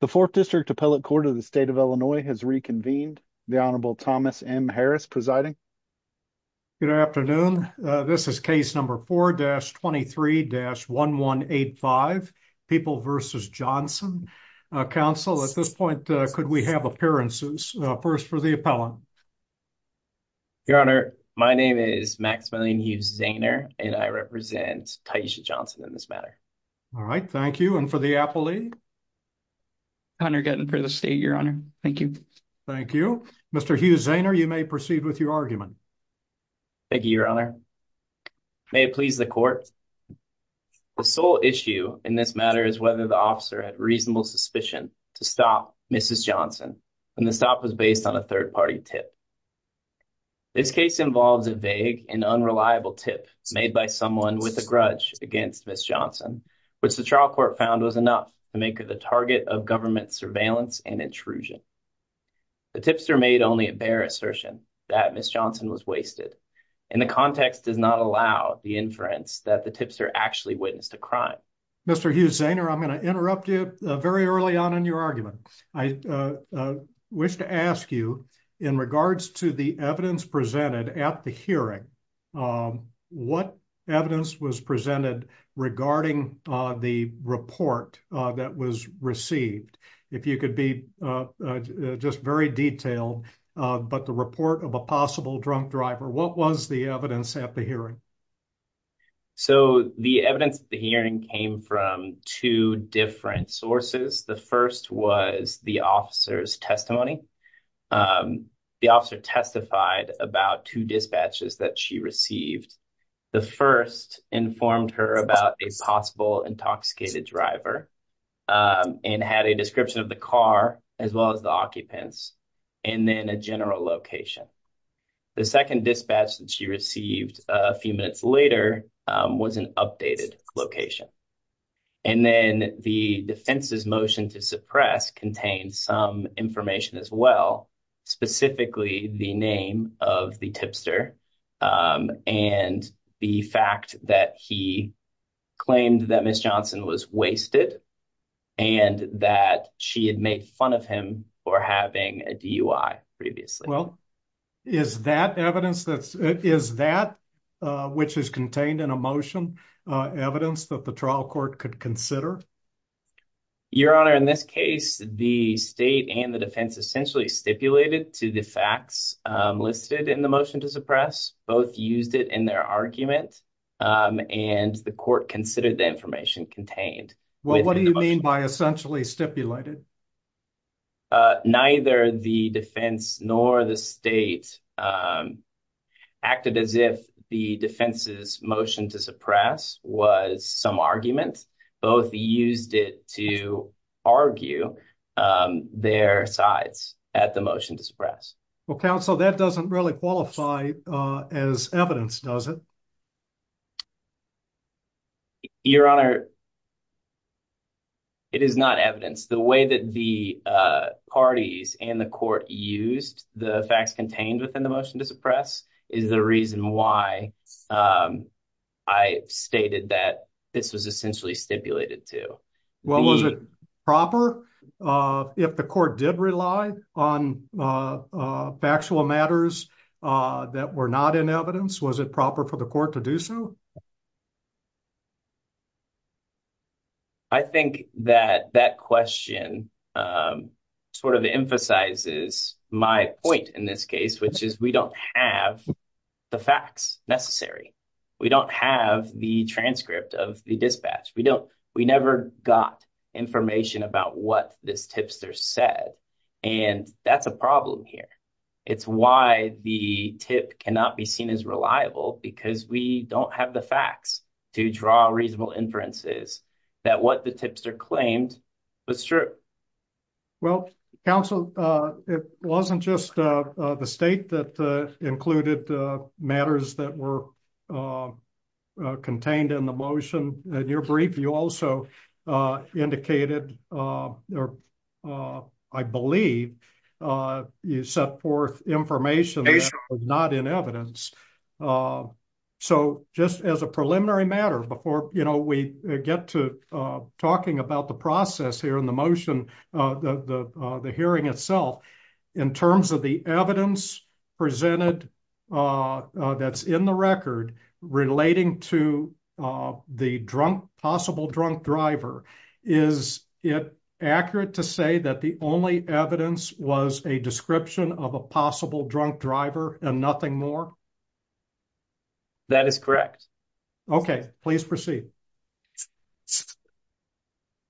The fourth district appellate court of the state of Illinois has reconvened. The Honorable Thomas M. Harris presiding. Good afternoon. This is case number 4-23-1185, People v. Johnson. Counsel, at this point, could we have appearances? First, for the appellant. Your Honor, my name is Maximillian Hughes-Zaner, and I represent Taisha Johnson in this matter. All right, thank you. And for the appellate? Hunter Guttin for the state, Your Honor. Thank you. Thank you. Mr. Hughes-Zaner, you may proceed with your argument. Thank you, Your Honor. May it please the court. The sole issue in this matter is whether the officer had reasonable suspicion to stop Mrs. Johnson when the stop was based on a third-party tip. This case involves a vague and unreliable tip made by someone with a grudge against Mrs. Johnson, which the trial court found was enough to make her the target of government surveillance and intrusion. The tipster made only a bare assertion that Mrs. Johnson was wasted, and the context does not allow the inference that the tipster actually witnessed a crime. Mr. Hughes-Zaner, I'm going to interrupt you very early on in your argument. I wish to ask you, in regards to the evidence presented at the hearing, um, what evidence was presented regarding, uh, the report, uh, that was received? If you could be, uh, uh, just very detailed, uh, but the report of a possible drunk driver, what was the evidence at the hearing? So, the evidence at the hearing came from two different sources. The first was the officer's testimony. Um, the officer testified about two dispatches that she received. The first informed her about a possible intoxicated driver, um, and had a description of the car, as well as the occupants, and then a general location. The second dispatch that she received a few minutes later, um, was an updated location. And then the defense's motion to suppress contained some information, as well, specifically the name of the tipster, um, and the fact that he claimed that Mrs. Johnson was wasted, and that she had made fun of him for having a DUI previously. Well, is that evidence that's, is that, uh, which is contained in a motion, uh, evidence that the trial court could consider? Your Honor, in this case, the state and the defense essentially stipulated to the facts, um, listed in the motion to suppress. Both used it in their argument, um, and the court considered the information contained. Well, what do you mean by essentially stipulated? Uh, neither the defense nor the state, um, acted as if the defense's motion to suppress was some argument. Both used it to argue, um, their sides at the motion to suppress. Well, counsel, that doesn't really qualify, uh, as evidence, does it? Your Honor, it is not evidence. The way that the, uh, parties and the court used the facts within the motion to suppress is the reason why, um, I stated that this was essentially stipulated to. Well, was it proper, uh, if the court did rely on, uh, uh, factual matters, uh, that were not in evidence, was it proper for the court to do so? Um, I think that that question, um, sort of emphasizes my point in this case, which is we don't have the facts necessary. We don't have the transcript of the dispatch. We don't, we never got information about what this tipster said, and that's a problem here. It's why the tip cannot be seen as reliable, because we don't have the facts to draw reasonable inferences that what the tipster claimed was true. Well, counsel, uh, it wasn't just, uh, uh, the state that, uh, included, uh, matters that were, uh, uh, contained in the motion. In your brief, you also, uh, indicated, uh, or, uh, I believe, uh, you set forth information that was not in evidence. So just as a preliminary matter before, you know, we get to, uh, talking about the process here in the motion, uh, the, uh, the hearing itself in terms of the evidence presented, uh, uh, that's in the record relating to, uh, the drunk, possible drunk driver. Is it accurate to say that the only evidence was a description of a possible drunk driver and nothing more? That is correct. Okay, please proceed.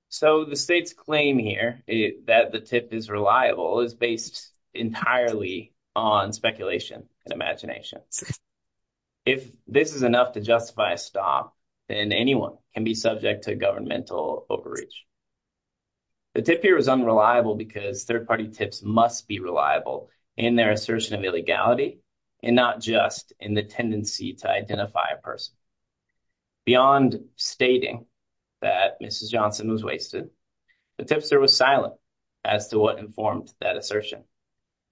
So the state's claim here that the tip is reliable is based entirely on speculation and imagination. If this is enough to justify a stop, then anyone can be subject to governmental overreach. The tip here is unreliable because third-party tips must be reliable in their assertion of illegality and not just in the tendency to identify a person. Beyond stating that Mrs. Johnson was wasted, the tipster was silent as to what informed that assertion.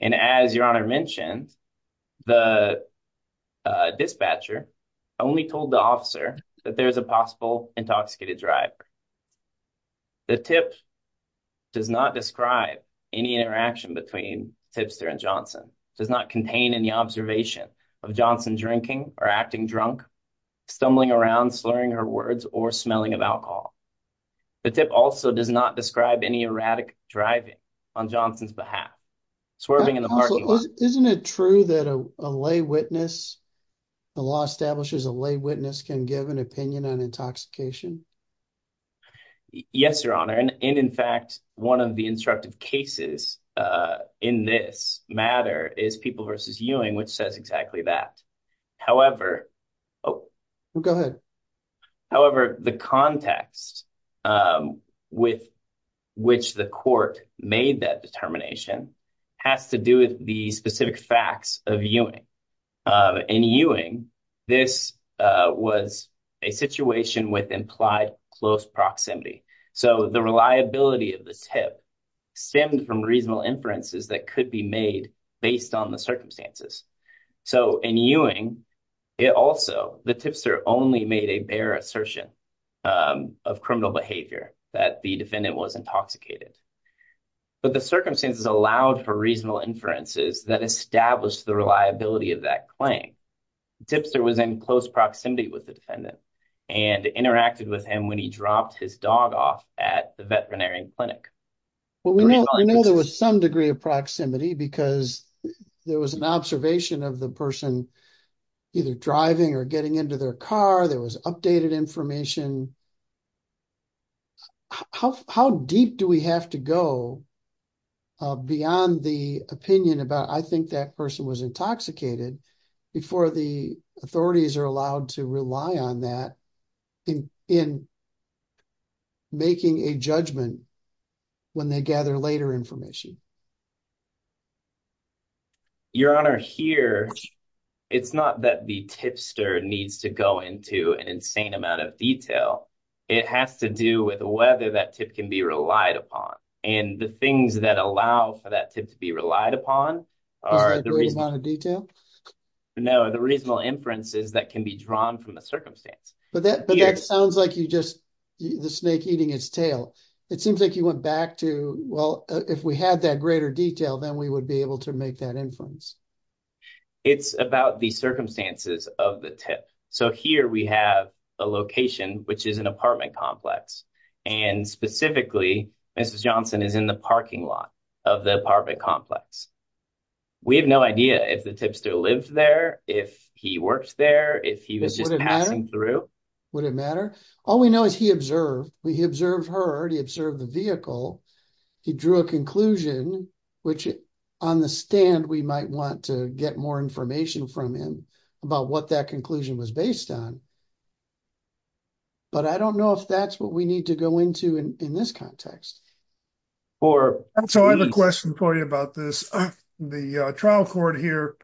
And as your honor mentioned, the dispatcher only told the officer that there is a possible intoxicated driver. The tip does not describe any interaction between tipster and Johnson, does not contain any observation of Johnson drinking or acting drunk, stumbling around, slurring her words, or smelling of alcohol. The tip also does not describe any erratic driving on Johnson's behalf, swerving in the parking lot. Isn't it true that a lay witness, the law establishes a lay witness can give an opinion on intoxication? Yes, your honor. And in fact, one of the instructive cases in this matter is People versus Ewing, which says exactly that. However... Go ahead. However, the context with which the court made that determination has to do with the specific facts of Ewing. In Ewing, this was a situation with implied close proximity. So the reliability of the tip stemmed from reasonable inferences that could be made based on the circumstances. So in Ewing, it also, the tipster only made a bare assertion of criminal behavior that the defendant was intoxicated. But the circumstances allowed for reasonable inferences that established the reliability of that claim. The tipster was in close proximity with the defendant and interacted with him when he dropped his dog off at the veterinary clinic. Well, we know there was some of proximity because there was an observation of the person either driving or getting into their car. There was updated information. How deep do we have to go beyond the opinion about, I think that person was intoxicated before the authorities are allowed to rely on that in making a judgment when they gather later information? Your Honor, here, it's not that the tipster needs to go into an insane amount of detail. It has to do with whether that tip can be relied upon. And the things that allow for that tip to be relied upon are the reasonable... Is that a great amount of detail? But that sounds like you just, the snake eating its tail. It seems like you went back to, well, if we had that greater detail, then we would be able to make that inference. It's about the circumstances of the tip. So here we have a location, which is an apartment complex. And specifically, Mrs. Johnson is in the parking lot of the apartment complex. We have no idea if tipster lived there, if he worked there, if he was just passing through. Would it matter? All we know is he observed. He observed her, he observed the vehicle. He drew a conclusion, which on the stand, we might want to get more information from him about what that conclusion was based on. But I don't know if that's what we need to go into in this context. So I have a question for you about this. The trial court here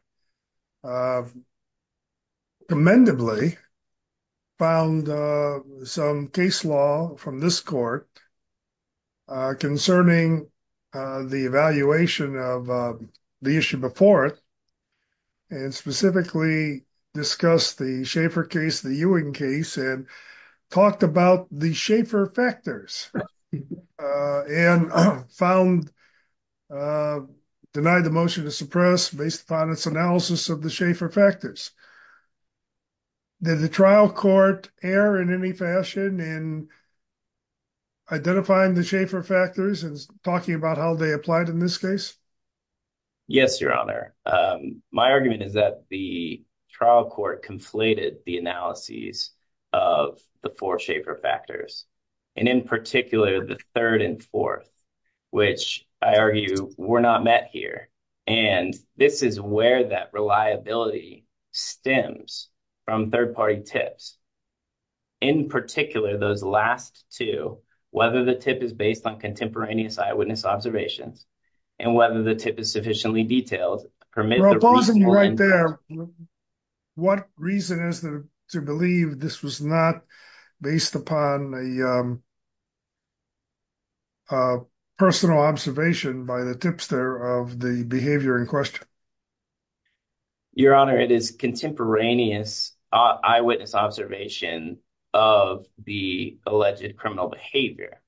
commendably found some case law from this court concerning the evaluation of the issue before it, and specifically discussed the Schaefer case, the Ewing case, and talked about the Schaefer factors and found, denied the motion to suppress based upon its analysis of the Schaefer factors. Did the trial court err in any fashion in identifying the Schaefer factors and talking about how they applied in this case? Yes, your honor. My argument is that the trial court conflated the analyses of the four Schaefer factors, and in particular, the third and fourth, which I argue were not met here. And this is where that reliability stems from third party tips. In particular, those last two, whether the tip is based on contemporaneous eyewitness observations, and whether the tip is sufficiently detailed, permit the reasoning. Well, pausing you right there, what reason is there to believe this was not based upon a personal observation by the tipster of the behavior in question? Your honor, it is contemporaneous eyewitness observation of the alleged criminal behavior.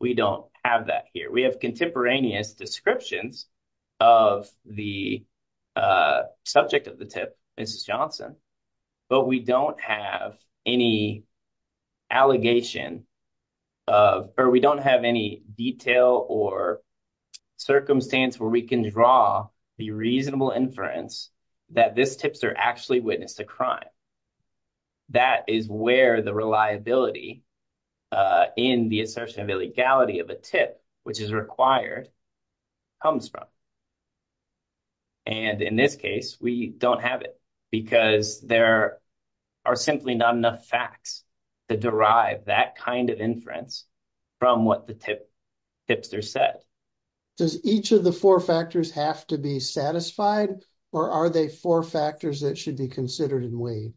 We don't have that here. We have contemporaneous descriptions of the subject of the tip, Mrs. Johnson, but we don't have any allegation of, or we don't have any detail or circumstance where we can draw the reasonable inference that this tipster actually witnessed a crime. That is where the reliability in the assertion of illegality of a tip, which is required, comes from. And in this case, we don't have it because there are simply not enough facts to derive that kind of inference from what the tipster said. Does each of the four factors have to be satisfied, or are they four factors that should be considered and weighed?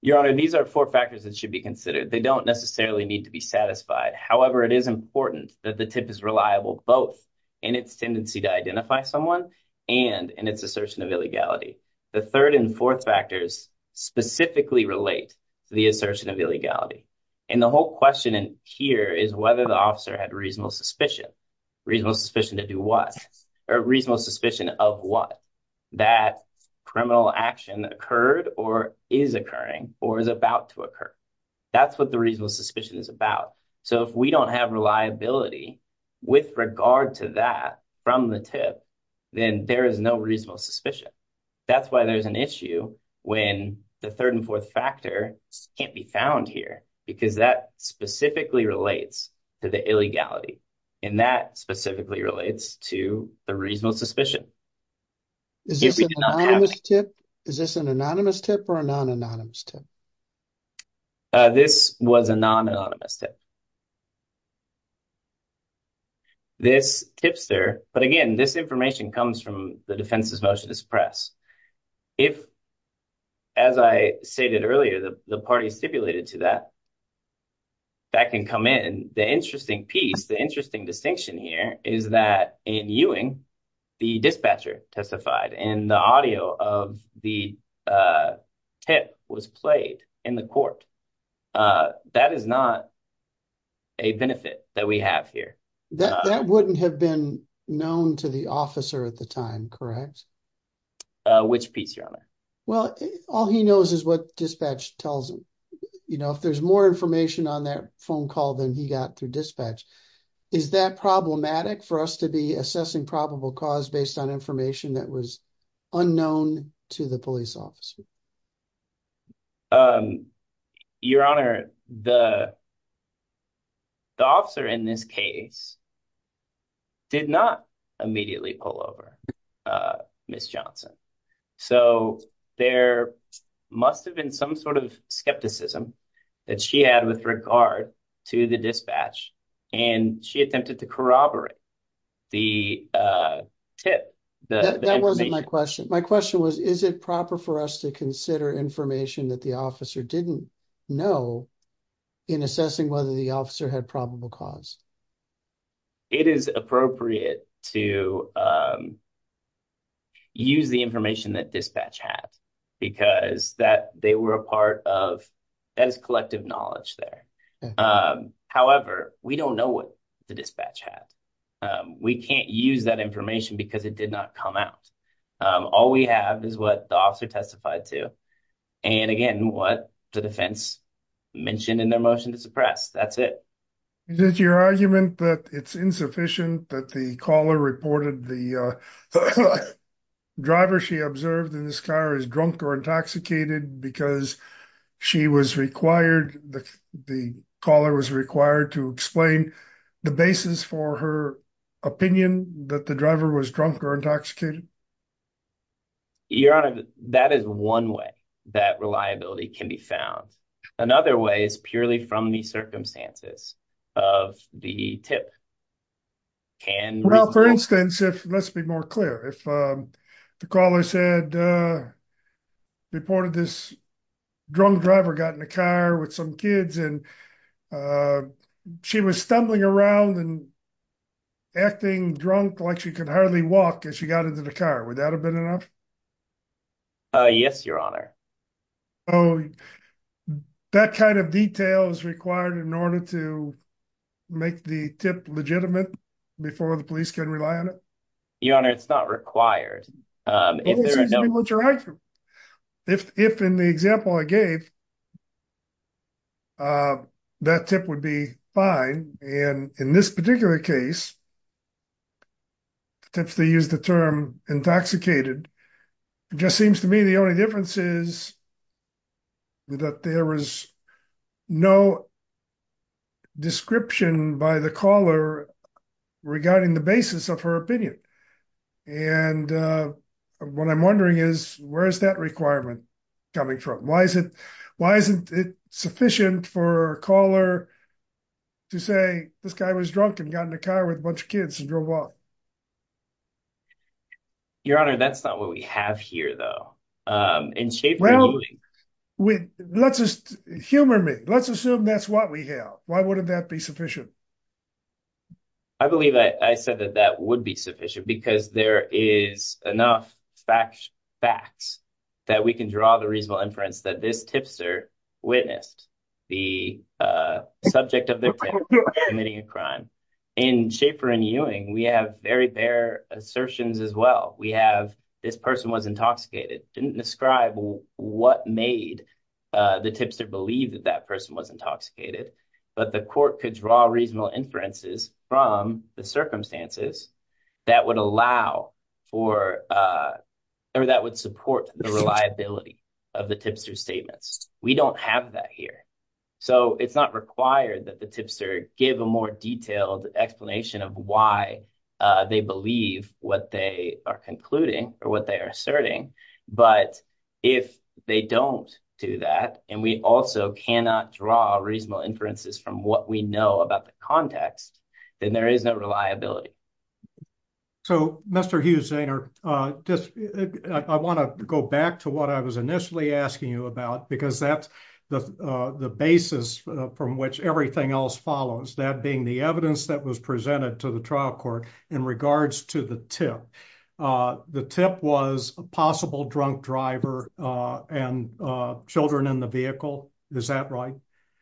Your honor, these are four factors that should be considered. They don't necessarily need to be satisfied. However, it is important that the tip is reliable both in its tendency to identify someone and in its assertion of illegality. The third and fourth factors specifically relate to the assertion of illegality. And the whole question here is whether the officer had reasonable suspicion. Reasonable suspicion to do what? Or reasonable suspicion of what? That criminal action occurred or is occurring or is about to occur. That's what the reasonable suspicion is about. So if we don't have reliability with regard to that from the tip, then there is no reasonable suspicion. That's why there's an issue when the third and fourth factors can't be found here, because that specifically relates to the illegality. And that specifically relates to the reasonable suspicion. Is this an anonymous tip or a non-anonymous tip? This was a non-anonymous tip. This tipster, but again, this information comes from the defense's motion to suppress. If, as I stated earlier, the parties stipulated to that, that can come in. The interesting piece, the interesting distinction here is that in Ewing, the dispatcher testified and the audio of the tip was played in the court. That is not a benefit that we have here. That wouldn't have been known to the officer at the time, correct? Which piece, Your Honor? Well, all he knows is what dispatch tells him. If there's more information on that phone call than he got through dispatch, is that problematic for us to be assessing probable cause based on information that was unknown to the police officer? Your Honor, the officer in this case did not immediately pull over Ms. Johnson. So, there must have been some sort of skepticism that she had with regard to the dispatch, and she attempted to corroborate the tip. That wasn't my question. My question was, is it proper for us to consider information that the officer didn't know in assessing whether the officer had probable cause? It is appropriate to use the information that dispatch had, because that they were a part of, that is collective knowledge there. However, we don't know what the dispatch had. We can't use that information because it did not come out. All we have is what the officer testified to, and again, what the defense mentioned in their motion to suppress. That's it. Is it your argument that it's insufficient that the caller reported the driver she observed in this car is drunk or intoxicated because the caller was required to explain the basis for her opinion that the driver was drunk or intoxicated? Your Honor, that is one way that reliability can be found. Another way is purely from the circumstances of the tip. Well, for instance, let's be more clear. If the caller said, reported this drunk driver got in the car with some kids, and she was stumbling around and acting drunk like she could hardly walk as she got into the car, would that have been enough? Yes, Your Honor. That kind of detail is required in order to make the tip legitimate before the police can rely on it? Your Honor, it's not required. If in the example I gave, that tip would be fine. In this particular case, the tips they used the term intoxicated, it just seems to me the only difference is that there was no description by the caller regarding the basis of her opinion. And what I'm wondering is, where is that requirement coming from? Why isn't it sufficient for a caller to say this guy was drunk and got in the car with a bunch of kids and drove off? Your Honor, that's not what we have here, though. Humor me. Let's assume that's what we have. Why wouldn't that be sufficient? I believe I said that that would be sufficient because there is enough fact that we can draw the reasonable inference that this tipster witnessed the subject of their tip committing a crime. In Schaefer and Ewing, we have very bare assertions as well. We have, this person was intoxicated, didn't describe what made the tipster believe that that person was intoxicated, but the court could draw reasonable inferences from the circumstances that would allow for, or that would support the reliability of the tipster's statements. We don't have that here. So, it's not required that the tipster give a more detailed explanation of why they believe what they are concluding or what they are asserting. But if they don't do that, and we also cannot draw reasonable inferences from what we know about the context, then there is no reliability. So, Mr. Hughes-Zaner, I want to go back to what I was initially asking you about because that's the basis from which everything else follows, that being the evidence that was presented to the trial court in regards to the tip. The tip was a possible drunk driver and children in the vehicle. Is that right?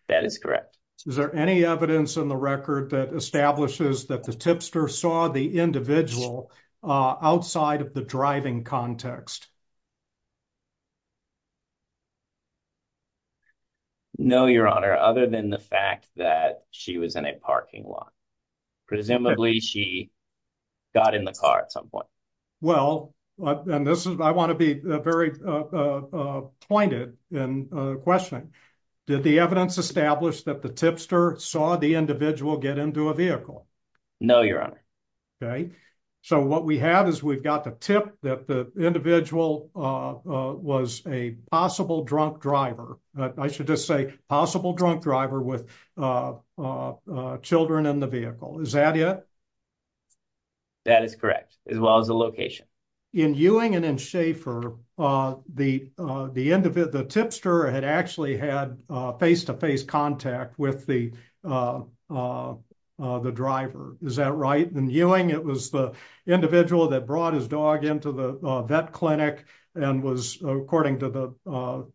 That is correct. Is there any evidence in the record that establishes that the tipster saw the individual outside of the driving context? No, Your Honor, other than the fact that she was in a parking lot. Presumably, she got in the car at some point. Well, and this is, I want to be very pointed in questioning. Did the evidence establish that the tipster saw the individual get into a vehicle? No, Your Honor. Okay. So, what we have is we've got the tip that the individual was a possible drunk driver. I should just say possible drunk driver with children in the vehicle. Is that it? That is correct, as well as the location. In Ewing and in Schaefer, the tipster had actually had face-to-face contact with the driver. Is that right? In Ewing, it was the individual that brought his dog into the vet clinic and was, according to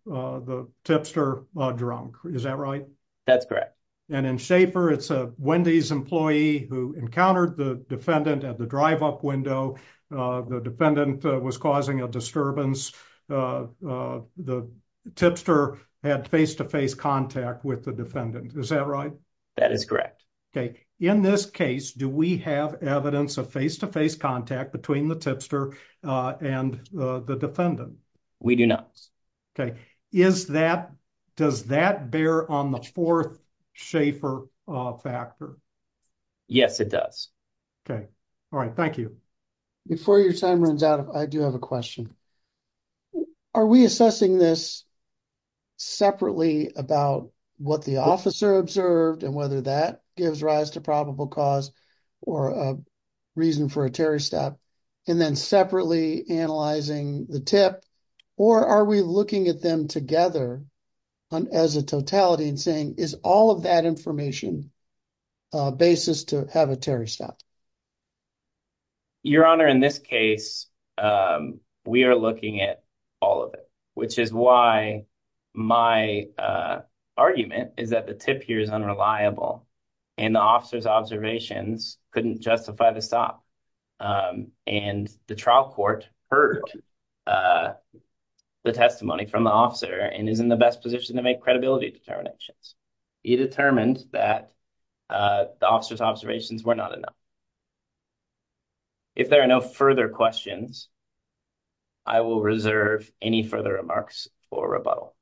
the tipster, drunk. Is that right? That's correct. And in Schaefer, it's a Wendy's who encountered the defendant at the drive-up window. The defendant was causing a disturbance. The tipster had face-to-face contact with the defendant. Is that right? That is correct. Okay. In this case, do we have evidence of face-to-face contact between the tipster and the defendant? We do not. Okay. Does that bear on the fourth Schaefer factor? Yes, it does. Okay. All right. Thank you. Before your time runs out, I do have a question. Are we assessing this separately about what the officer observed and whether that gives rise to probable cause or a reason for a terrorist act, and then separately analyzing the tip, or are we looking at them together as a totality and saying, is all of that information a basis to have a terrorist act? Your Honor, in this case, we are looking at all of it, which is why my argument is that the tip here is unreliable and the officer's observations couldn't justify the stop. And the trial court heard the testimony from the officer and is in best position to make credibility determinations. He determined that the officer's observations were not enough. If there are no further questions, I will reserve any further remarks for rebuttal.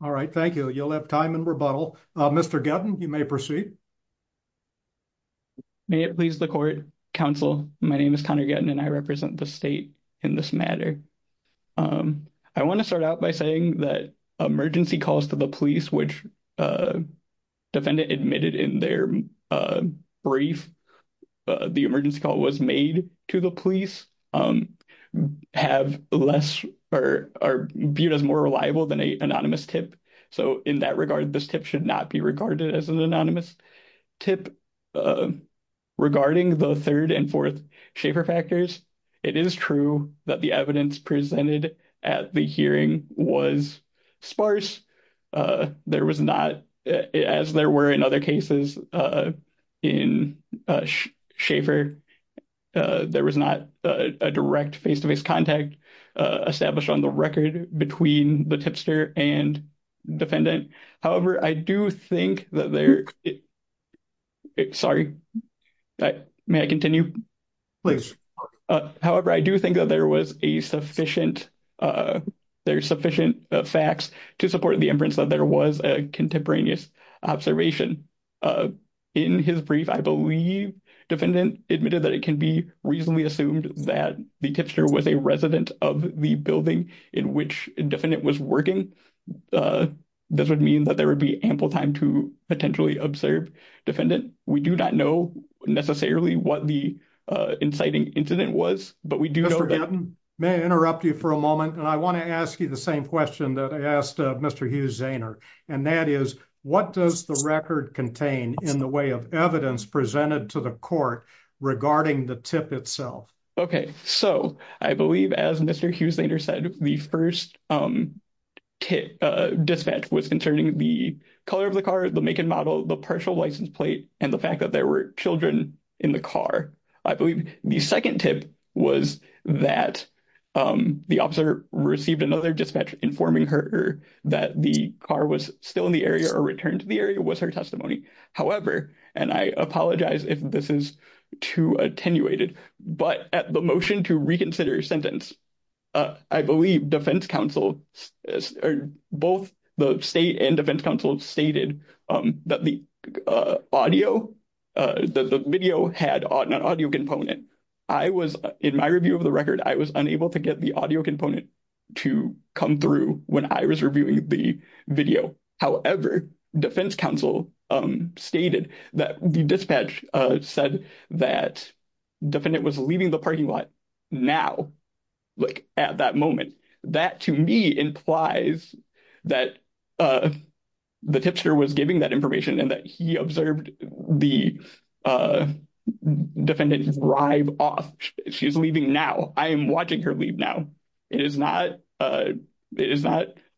All right. Thank you. You'll have time in rebuttal. Mr. Gutton, you may proceed. May it please the court, counsel, my name is Connor Gutton and I represent the state in this matter. I want to start out by saying that emergency calls to the police, which defendant admitted in their brief, the emergency call was made to the police, have less or are viewed as more reliable than an anonymous tip. So in that regard, this tip should not be regarded as an anonymous tip. Regarding the third and fourth Schaefer factors, it is true that the evidence presented at the hearing was sparse. There was not, as there were in other cases in Schaefer, there was not a direct face-to-face contact established on the record between the tipster and defendant. However, I do think that there, sorry, may I continue? Please. However, I do think that there was a sufficient, there's sufficient facts to support the inference that there was a contemporaneous observation. In his brief, I believe defendant admitted that it can be reasonably assumed that the tipster was a resident of the building in which the defendant was working. This would mean that there would be ample time to potentially observe defendant. We do not know necessarily what the inciting incident was, but we do know that- Mr. Gatton, may I interrupt you for a moment? And I want to ask you the same question that I asked Mr. Hughes-Zaner. And that is, what does the record contain in the way of evidence presented to the court regarding the tip itself? Okay. So I believe as Mr. Hughes-Zaner said, the first dispatch was concerning the color of the car, the make and model, the partial license plate, and the fact that there were children in the car. I believe the second tip was that the officer received another dispatch informing her that the car was still in the area or returned to the area was her testimony. However, and I apologize if this is too attenuated, but at the motion to reconsider sentence, I believe both the state and defense counsel stated that the video had an audio component. In my review of the record, I was unable to get the audio component to come through when I was reviewing the video. However, defense counsel stated that the dispatch said that defendant was leaving the parking lot now, like at that moment. That to me implies that the tipster was giving that information and that he observed the defendant drive off. She's leaving now. I am watching her leave now. It is not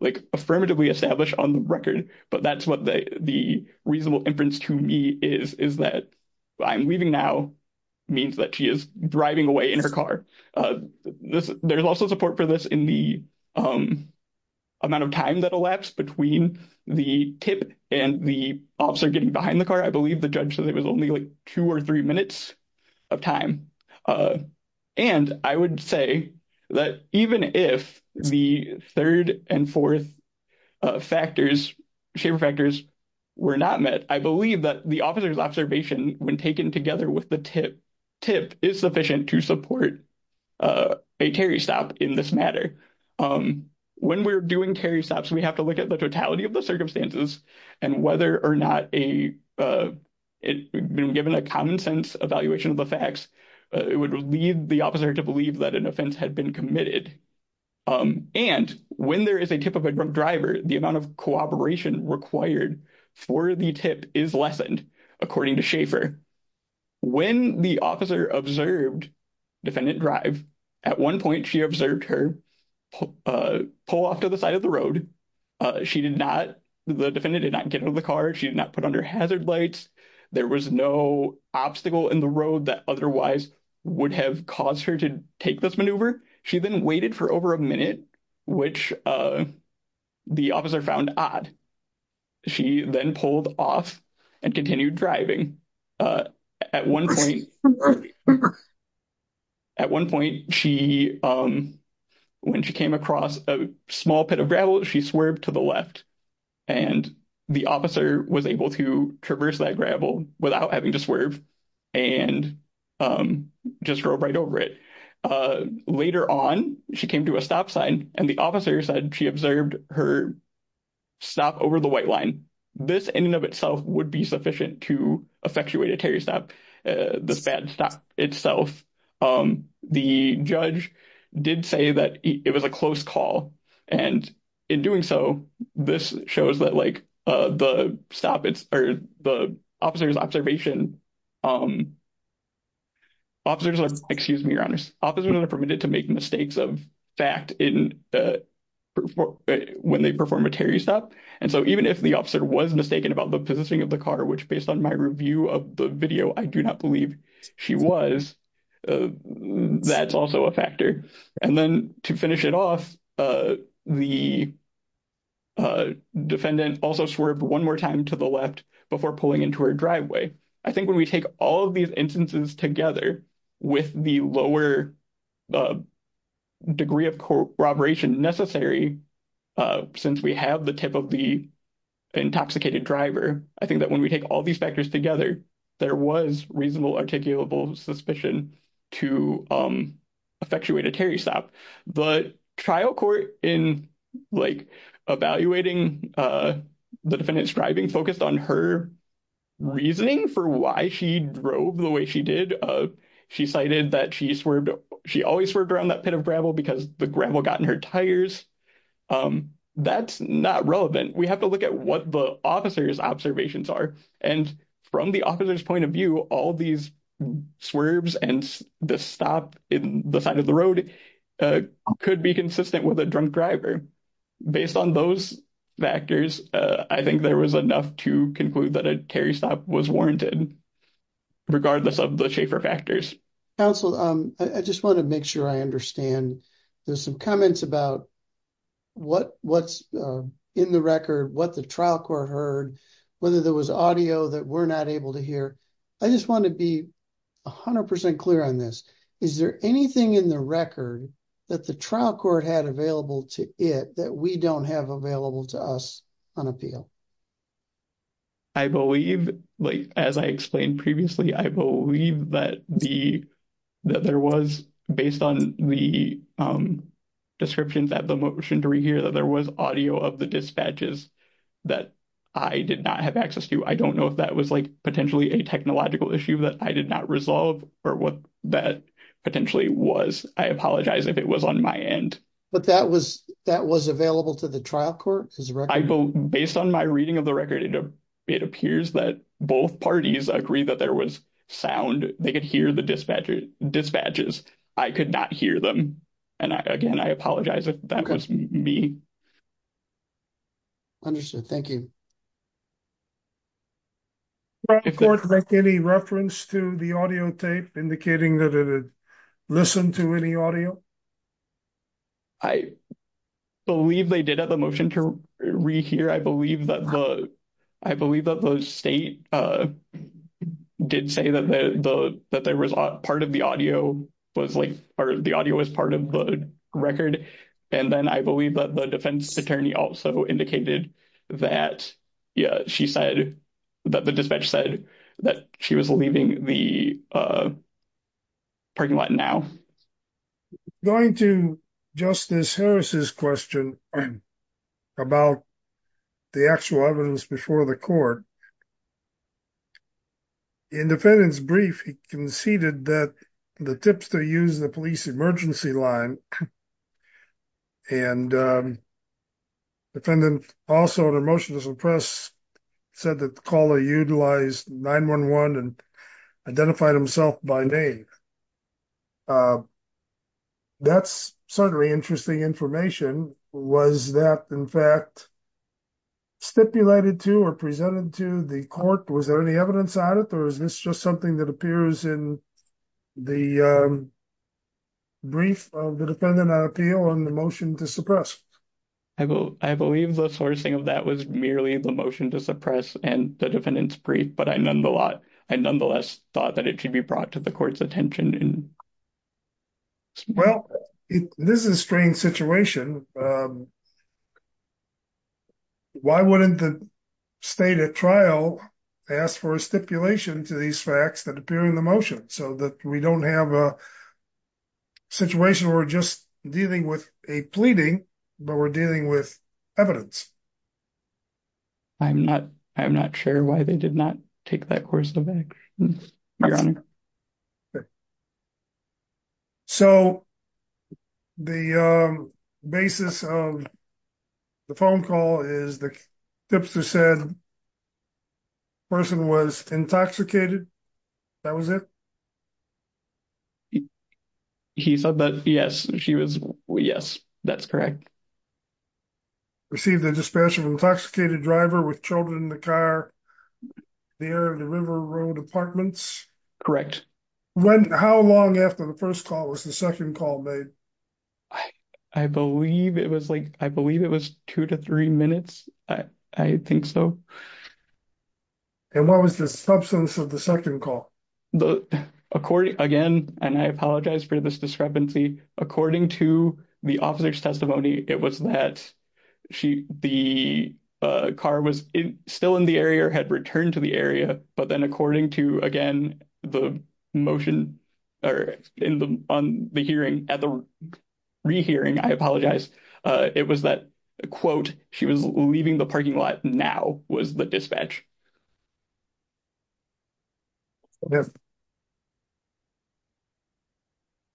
like affirmatively established on the record, but that's what the reasonable inference to me is, is that I'm leaving now means that she is driving away in her car. There's also support for this in the amount of time that elapsed between the tip and the officer getting behind the car. I believe the judge said it was only like two or three minutes of time. I would say that even if the third and fourth shaper factors were not met, I believe that the officer's observation when taken together with the tip is sufficient to support a Terry stop in this matter. When we're doing Terry stops, we have to look at the totality of the circumstances and whether or not it had been given a common sense evaluation of the facts. It would lead the officer to believe that an offense had been committed. When there is a tip of a drunk driver, the amount of cooperation required for the tip is lessened, according to Schaefer. When the officer observed defendant drive, at one point she observed her pull off to the side of the road. She did not, the defendant did not get out of the car. She did not put on her hazard lights. There was no obstacle in the road that otherwise would have caused her to take this maneuver. She then waited for over a minute, which the officer found odd. She then pulled off and continued driving. At one point, when she came across a small pit of gravel, she swerved to the left and the officer was able to traverse that gravel without having to swerve and just drove right over it. Later on, she came to a stop sign and the officer said she observed her stop over the white line. This in and of itself would be sufficient to effectuate a Terry stop, the stop itself. The judge did say that it was a close call and in doing so, this shows that like the stop, it's, or the officer's observation, officers are, excuse me, officers are permitted to make mistakes of fact in, when they perform a Terry stop. And so even if the officer was mistaken about the positioning of the car, which based on my review of the video, I do not believe she was, that's also a factor. And then to finish it off, the defendant also swerved one more time to the left before pulling into her driveway. I think we take all of these instances together with the lower degree of corroboration necessary, since we have the tip of the intoxicated driver, I think that when we take all these factors together, there was reasonable articulable suspicion to effectuate a Terry stop. But trial in evaluating the defendant's driving focused on her reasoning for why she drove the way she did. She cited that she swerved, she always swerved around that pit of gravel because the gravel got in her tires. That's not relevant. We have to look at what the officer's observations are. And from the officer's point of view, all these swerves and the stop in the side of the road could be consistent with a drunk driver. Based on those factors, I think there was enough to conclude that a Terry stop was warranted, regardless of the Schaefer factors. Counsel, I just want to make sure I understand. There's some comments about what's in the record, what the trial court heard, whether there was audio that we're not able to hear. I just want to be 100% clear on this. Is there anything in the record that the trial court had available to it that we don't have available to us on appeal? I believe, as I explained previously, I believe that there was, based on the description that the motion to rehear, that there was audio of the dispatches that I did not have access to. I don't know if that was potentially a technological issue that I did not resolve or what that potentially was. I apologize if it was on my end. But that was available to the trial court? Based on my reading of the record, it appears that both parties agreed that there was sound. They could hear the dispatches. I could not hear them. And again, I apologize if that was me. Understood. Thank you. Did the court make any reference to the audio tape indicating that it had listened to any audio? I believe they did have the motion to rehear. I believe that the state did say that part of the audio was part of the record. And then I believe that the defense attorney also indicated that, yeah, she said that the dispatch said that she was leaving the parking lot now. Going to Justice Harris's question about the actual evidence before the court, in defendant's brief, he conceded that the tipster used the police emergency line and defendant also in a motion to suppress said that the caller utilized 9-1-1 and identified himself by name. That's certainly interesting information. Was that in fact stipulated to or presented to the court? Was there any evidence on it or is this just something that appears in the brief of the defendant on appeal on the motion to suppress? I believe the sourcing of that was merely the motion to suppress and the defendant's brief, but I nonetheless thought that it should be brought to the court's attention. Well, this is a strange situation. Why wouldn't the state at trial ask for a stipulation to these facts that appear in motion so that we don't have a situation where we're just dealing with a pleading, but we're dealing with evidence? I'm not sure why they did not take that course of action, your honor. So the basis of the phone call is the tipster said the person was intoxicated. That was it? He said that. Yes, she was. Yes, that's correct. Received a dispatch of intoxicated driver with children in the car near the River Road Apartments. Correct. How long after the first call was the second call made? I believe it was like I believe it was two to three minutes. I think so. And what was the substance of the second call? Again, and I apologize for this discrepancy. According to the officer's testimony, it was that the car was still in the area or had returned to the area. But then according to again, the motion or in the on the hearing at the rehearing, I apologize. It was that, quote, she was leaving the parking lot now was the dispatch.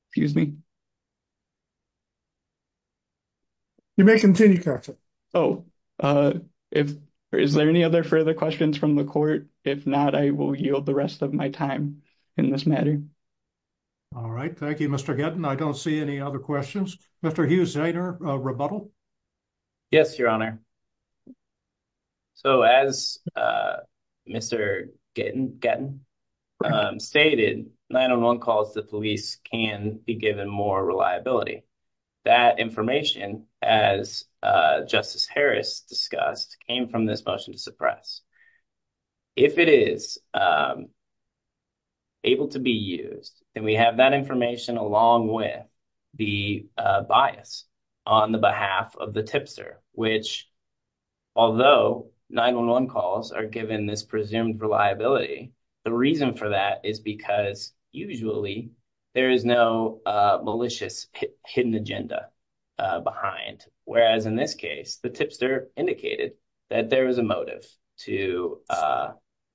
Excuse me. You may continue. Oh, is there any other further questions from the court? If not, I will yield the rest of my time in this matter. All right. Thank you, Mr. Gettin. I don't see any other questions. Mr. Hughes, I know rebuttal. Yes, your honor. So as Mr. Gettin stated, 911 calls the police can be given more reliability. That information as Justice Harris discussed came this motion to suppress. If it is able to be used and we have that information along with the bias on the behalf of the tipster, which although 911 calls are given this presumed reliability, the reason for that is because usually there is no malicious hidden agenda behind. Whereas in this case, the tipster indicated that there is a motive to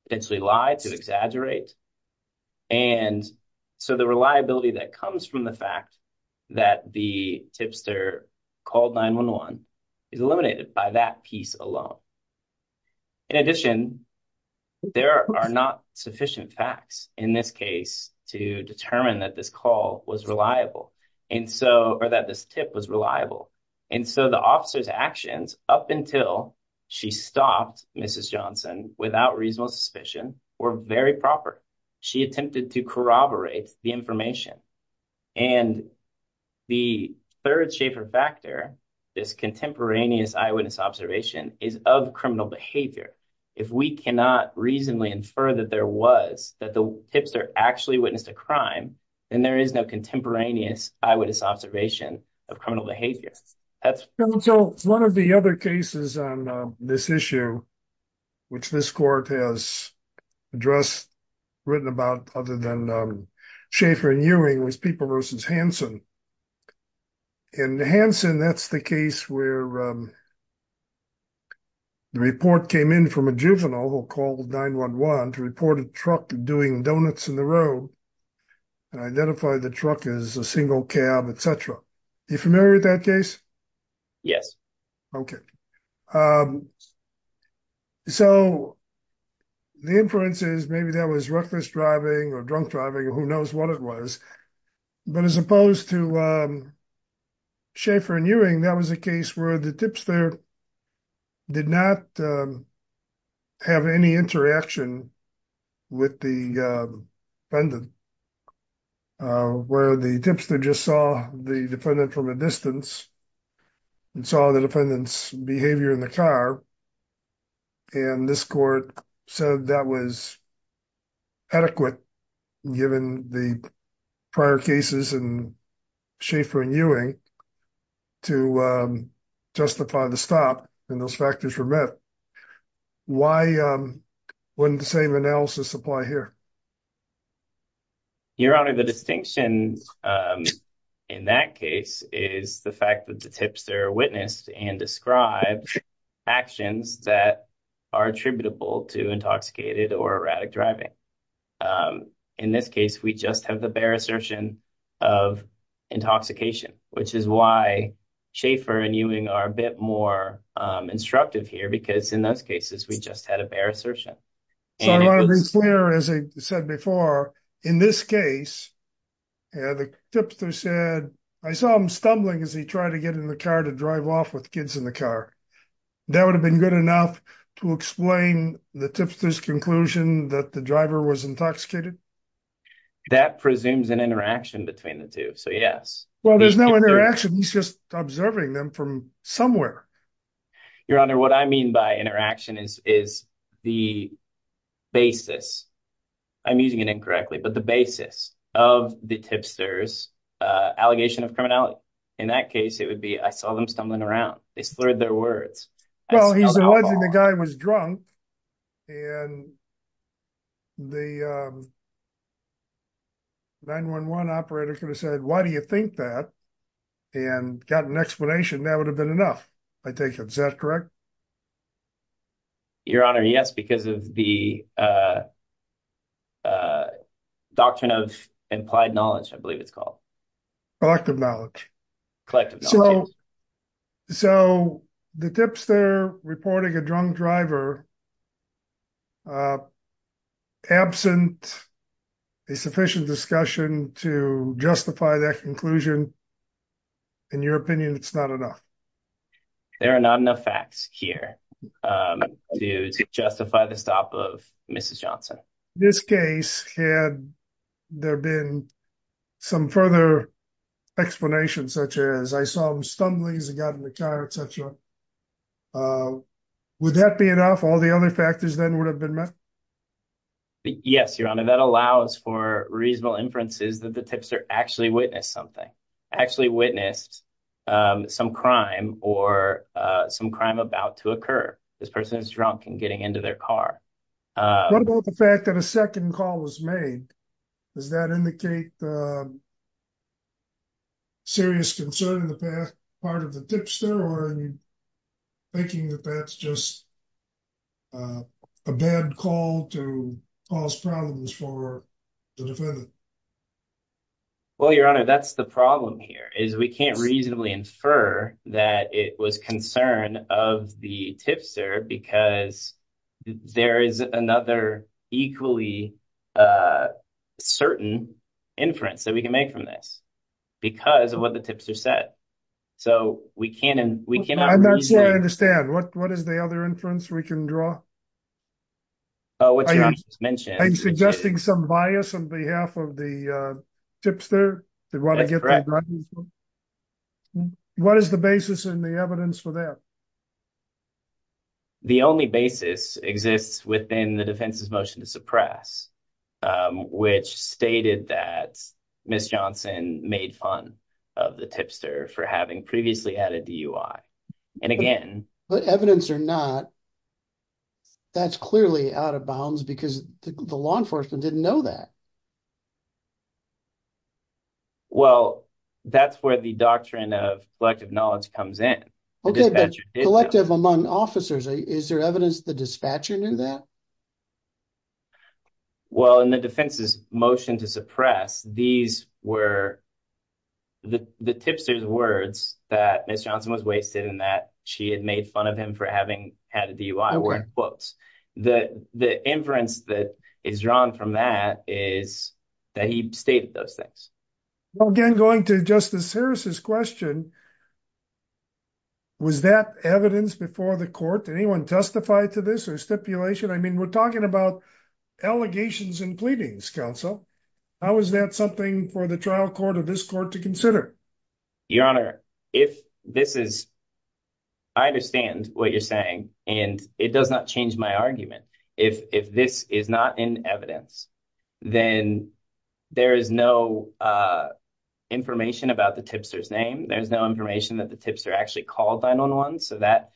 potentially lie to exaggerate. And so the reliability that comes from the fact that the tipster called 911 is eliminated by that piece alone. In addition, there are not sufficient facts in this case to determine that this call was reliable and so or that this tip was reliable. And so the officer's actions up until she stopped Mrs. Johnson without reasonable suspicion were very proper. She attempted to corroborate the information. And the third Schaefer factor, this contemporaneous eyewitness observation is of criminal behavior. If we cannot reasonably infer that there was that tipster actually witnessed a crime, then there is no contemporaneous eyewitness observation of criminal behavior. So one of the other cases on this issue, which this court has addressed, written about other than Schaefer and Ewing was people versus Hansen. In Hansen, that's the case where the report came in from a juvenile who called 911 to report a truck doing donuts in the road and identify the truck as a single cab, etc. Are you familiar with that case? Yes. Okay. So the inference is maybe that was reckless driving or drunk driving or who knows what it was. But as opposed to Schaefer and Ewing, that was a case where the tipster did not have any interaction with the defendant, where the tipster just saw the defendant from a distance and saw the defendant's behavior in the car. And this court said that was adequate given the prior cases in Schaefer and Ewing to justify the stop and those factors were met. Why wouldn't the same analysis apply here? Your Honor, the distinction in that case is the fact that the tipster witnessed and described actions that are attributable to intoxicated or erratic driving. In this case, we just have the bare assertion of intoxication, which is why Schaefer and Ewing are a bit more instructive here because in those cases, we just had a bare assertion. So I want to be clear, as I said before, in this case, the tipster said, I saw him stumbling as he tried to get in the car to drive off with kids in the car. That would have been good enough to explain the tipster's conclusion that the driver was intoxicated? That presumes an interaction between the two, so yes. Well, there's no interaction, he's just observing them from somewhere. Your Honor, what I mean by interaction is the basis, I'm using it incorrectly, but the basis of the tipster's allegation of criminality. In that case, I saw them stumbling around, they slurred their words. Well, he's the one who said the guy was drunk and the 911 operator could have said, why do you think that? And got an explanation, that would have been enough, I think. Is that correct? Your Honor, yes, because of the doctrine of implied knowledge, I believe it's called. Collective knowledge. So the tipster reporting a drunk driver, absent a sufficient discussion to justify that conclusion, in your opinion, it's not enough? There are not enough facts here to justify the stop of Mrs. Johnson. This case, had there been some further explanation such as, I saw him stumbling, he got in the car, et cetera, would that be enough? All the other factors then would have been met? Yes, Your Honor, that allows for reasonable inferences that the tipster actually witnessed some crime or some crime about to occur. This person is drunk and getting into their car. What about the fact that a second call was made? Does that indicate serious concern in the past part of the tipster, or are you thinking that that's just a bad call to cause problems for the defendant? Well, Your Honor, that's the problem here, is we can't reasonably infer that it was concern of the tipster because there is another equally certain inference that we can make from this, because of what the tipster said. So we cannot- I'm not sure I understand. What is the other inference we can draw? Oh, what you just mentioned. Are you suggesting some bias on behalf of the tipster? What is the basis and the evidence for that? Well, the only basis exists within the defense's motion to suppress, which stated that Ms. Johnson made fun of the tipster for having previously had a DUI. And again- But evidence or not, that's clearly out of bounds because the law enforcement didn't know that. Well, that's where the doctrine of collective knowledge comes in. Collective among officers. Is there evidence the dispatcher knew that? Well, in the defense's motion to suppress, these were the tipster's words that Ms. Johnson was wasted and that she had made fun of him for having had a DUI were in quotes. The inference that is drawn from that is that he stated those things. Well, again, going to Justice Harris's question, was that evidence before the court? Did anyone testify to this or stipulation? I mean, we're talking about allegations and pleadings, counsel. How is that something for the trial court or this court to consider? Your Honor, if this is- I understand what you're saying, and it does not change my argument. If this is not in evidence, then there is no information about the tipster's name. There's no information that the tipster actually called 911. So that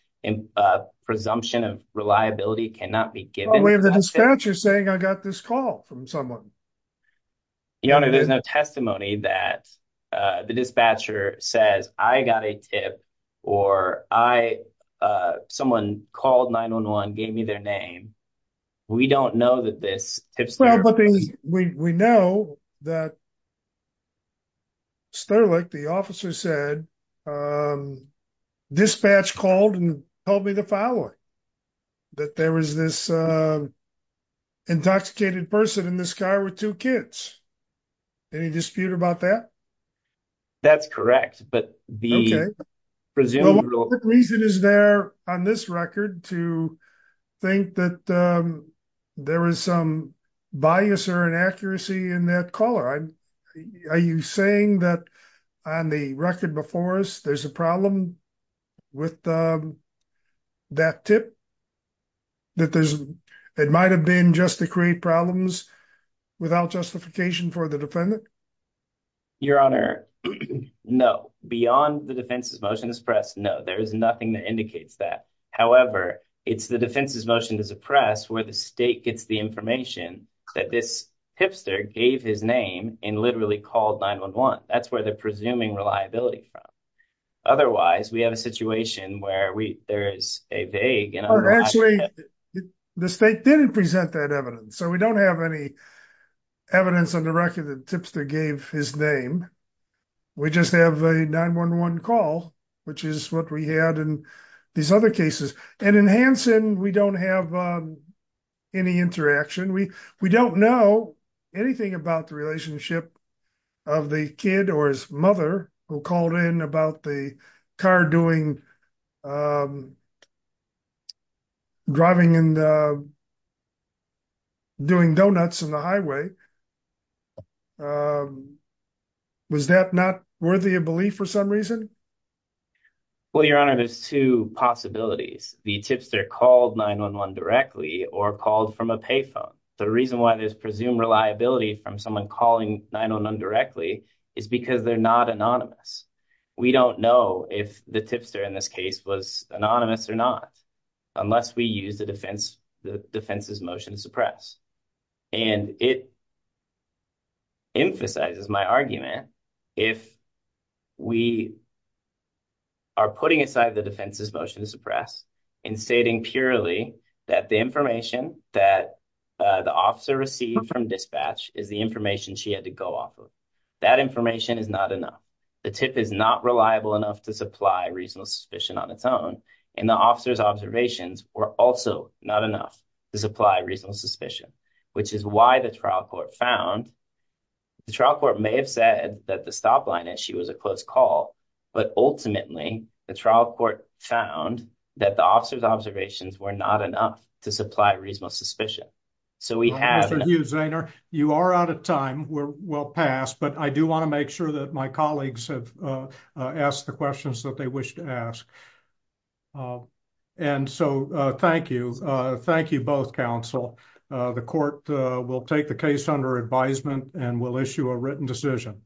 presumption of reliability cannot be given- Well, we have the dispatcher saying, I got this call from someone. Your Honor, there's no testimony that the dispatcher says, I got a tip or someone called 911, gave me their name. We don't know that this tipster- Well, but we know that Sterlick, the officer said, dispatch called and told me the following, that there was this intoxicated person in this car with two kids. Any dispute about that? That's correct, but the presumed- What reason is there on this record to think that there is some bias or inaccuracy in that caller? Are you saying that on the record before us, there's a problem with that tip? It might've been just to create problems without justification for the defendant? Your Honor, no, beyond the defense's motion to suppress, no, there is nothing that indicates that. However, it's the defense's motion to suppress where the state gets the information that this tipster gave his name and literally called 911. That's where they're presuming reliability from. Otherwise, we have a situation where there is a vague- Well, actually, the state didn't present that evidence. So we don't have any evidence on the record that the tipster gave his name. We just have a 911 call, which is what we had in these other cases. And in Hanson, we don't have any interaction. We don't know anything about the relationship of the kid or his mother who called in about the car doing donuts on the highway. Was that not worthy of belief for some reason? Well, Your Honor, there's two possibilities. The tipster called 911 directly or called from a payphone. The reason why there's presumed reliability from someone calling 911 directly is because they're not anonymous. We don't know if the tipster in this case was anonymous or not unless we use the defense's motion to suppress. And it emphasizes my argument if we are putting aside the defense's motion to suppress and stating purely that the information that the officer received from dispatch is the information she had to go off of. That information is not enough. The tip is not reliable enough to supply reasonable suspicion on its own, and the officer's observations were also not enough to supply reasonable suspicion, which is why the trial court found- The trial court may have said that the stop line issue was a close call, but ultimately, the trial court found that the officer's observations were not enough to supply reasonable suspicion. So we have- Thank you, Zainer. You are out of time. We're well past, but I do want to make sure that my colleagues have asked the questions that they wish to ask. And so, thank you. Thank you both, counsel. The court will take the case under advisement and will issue a written decision.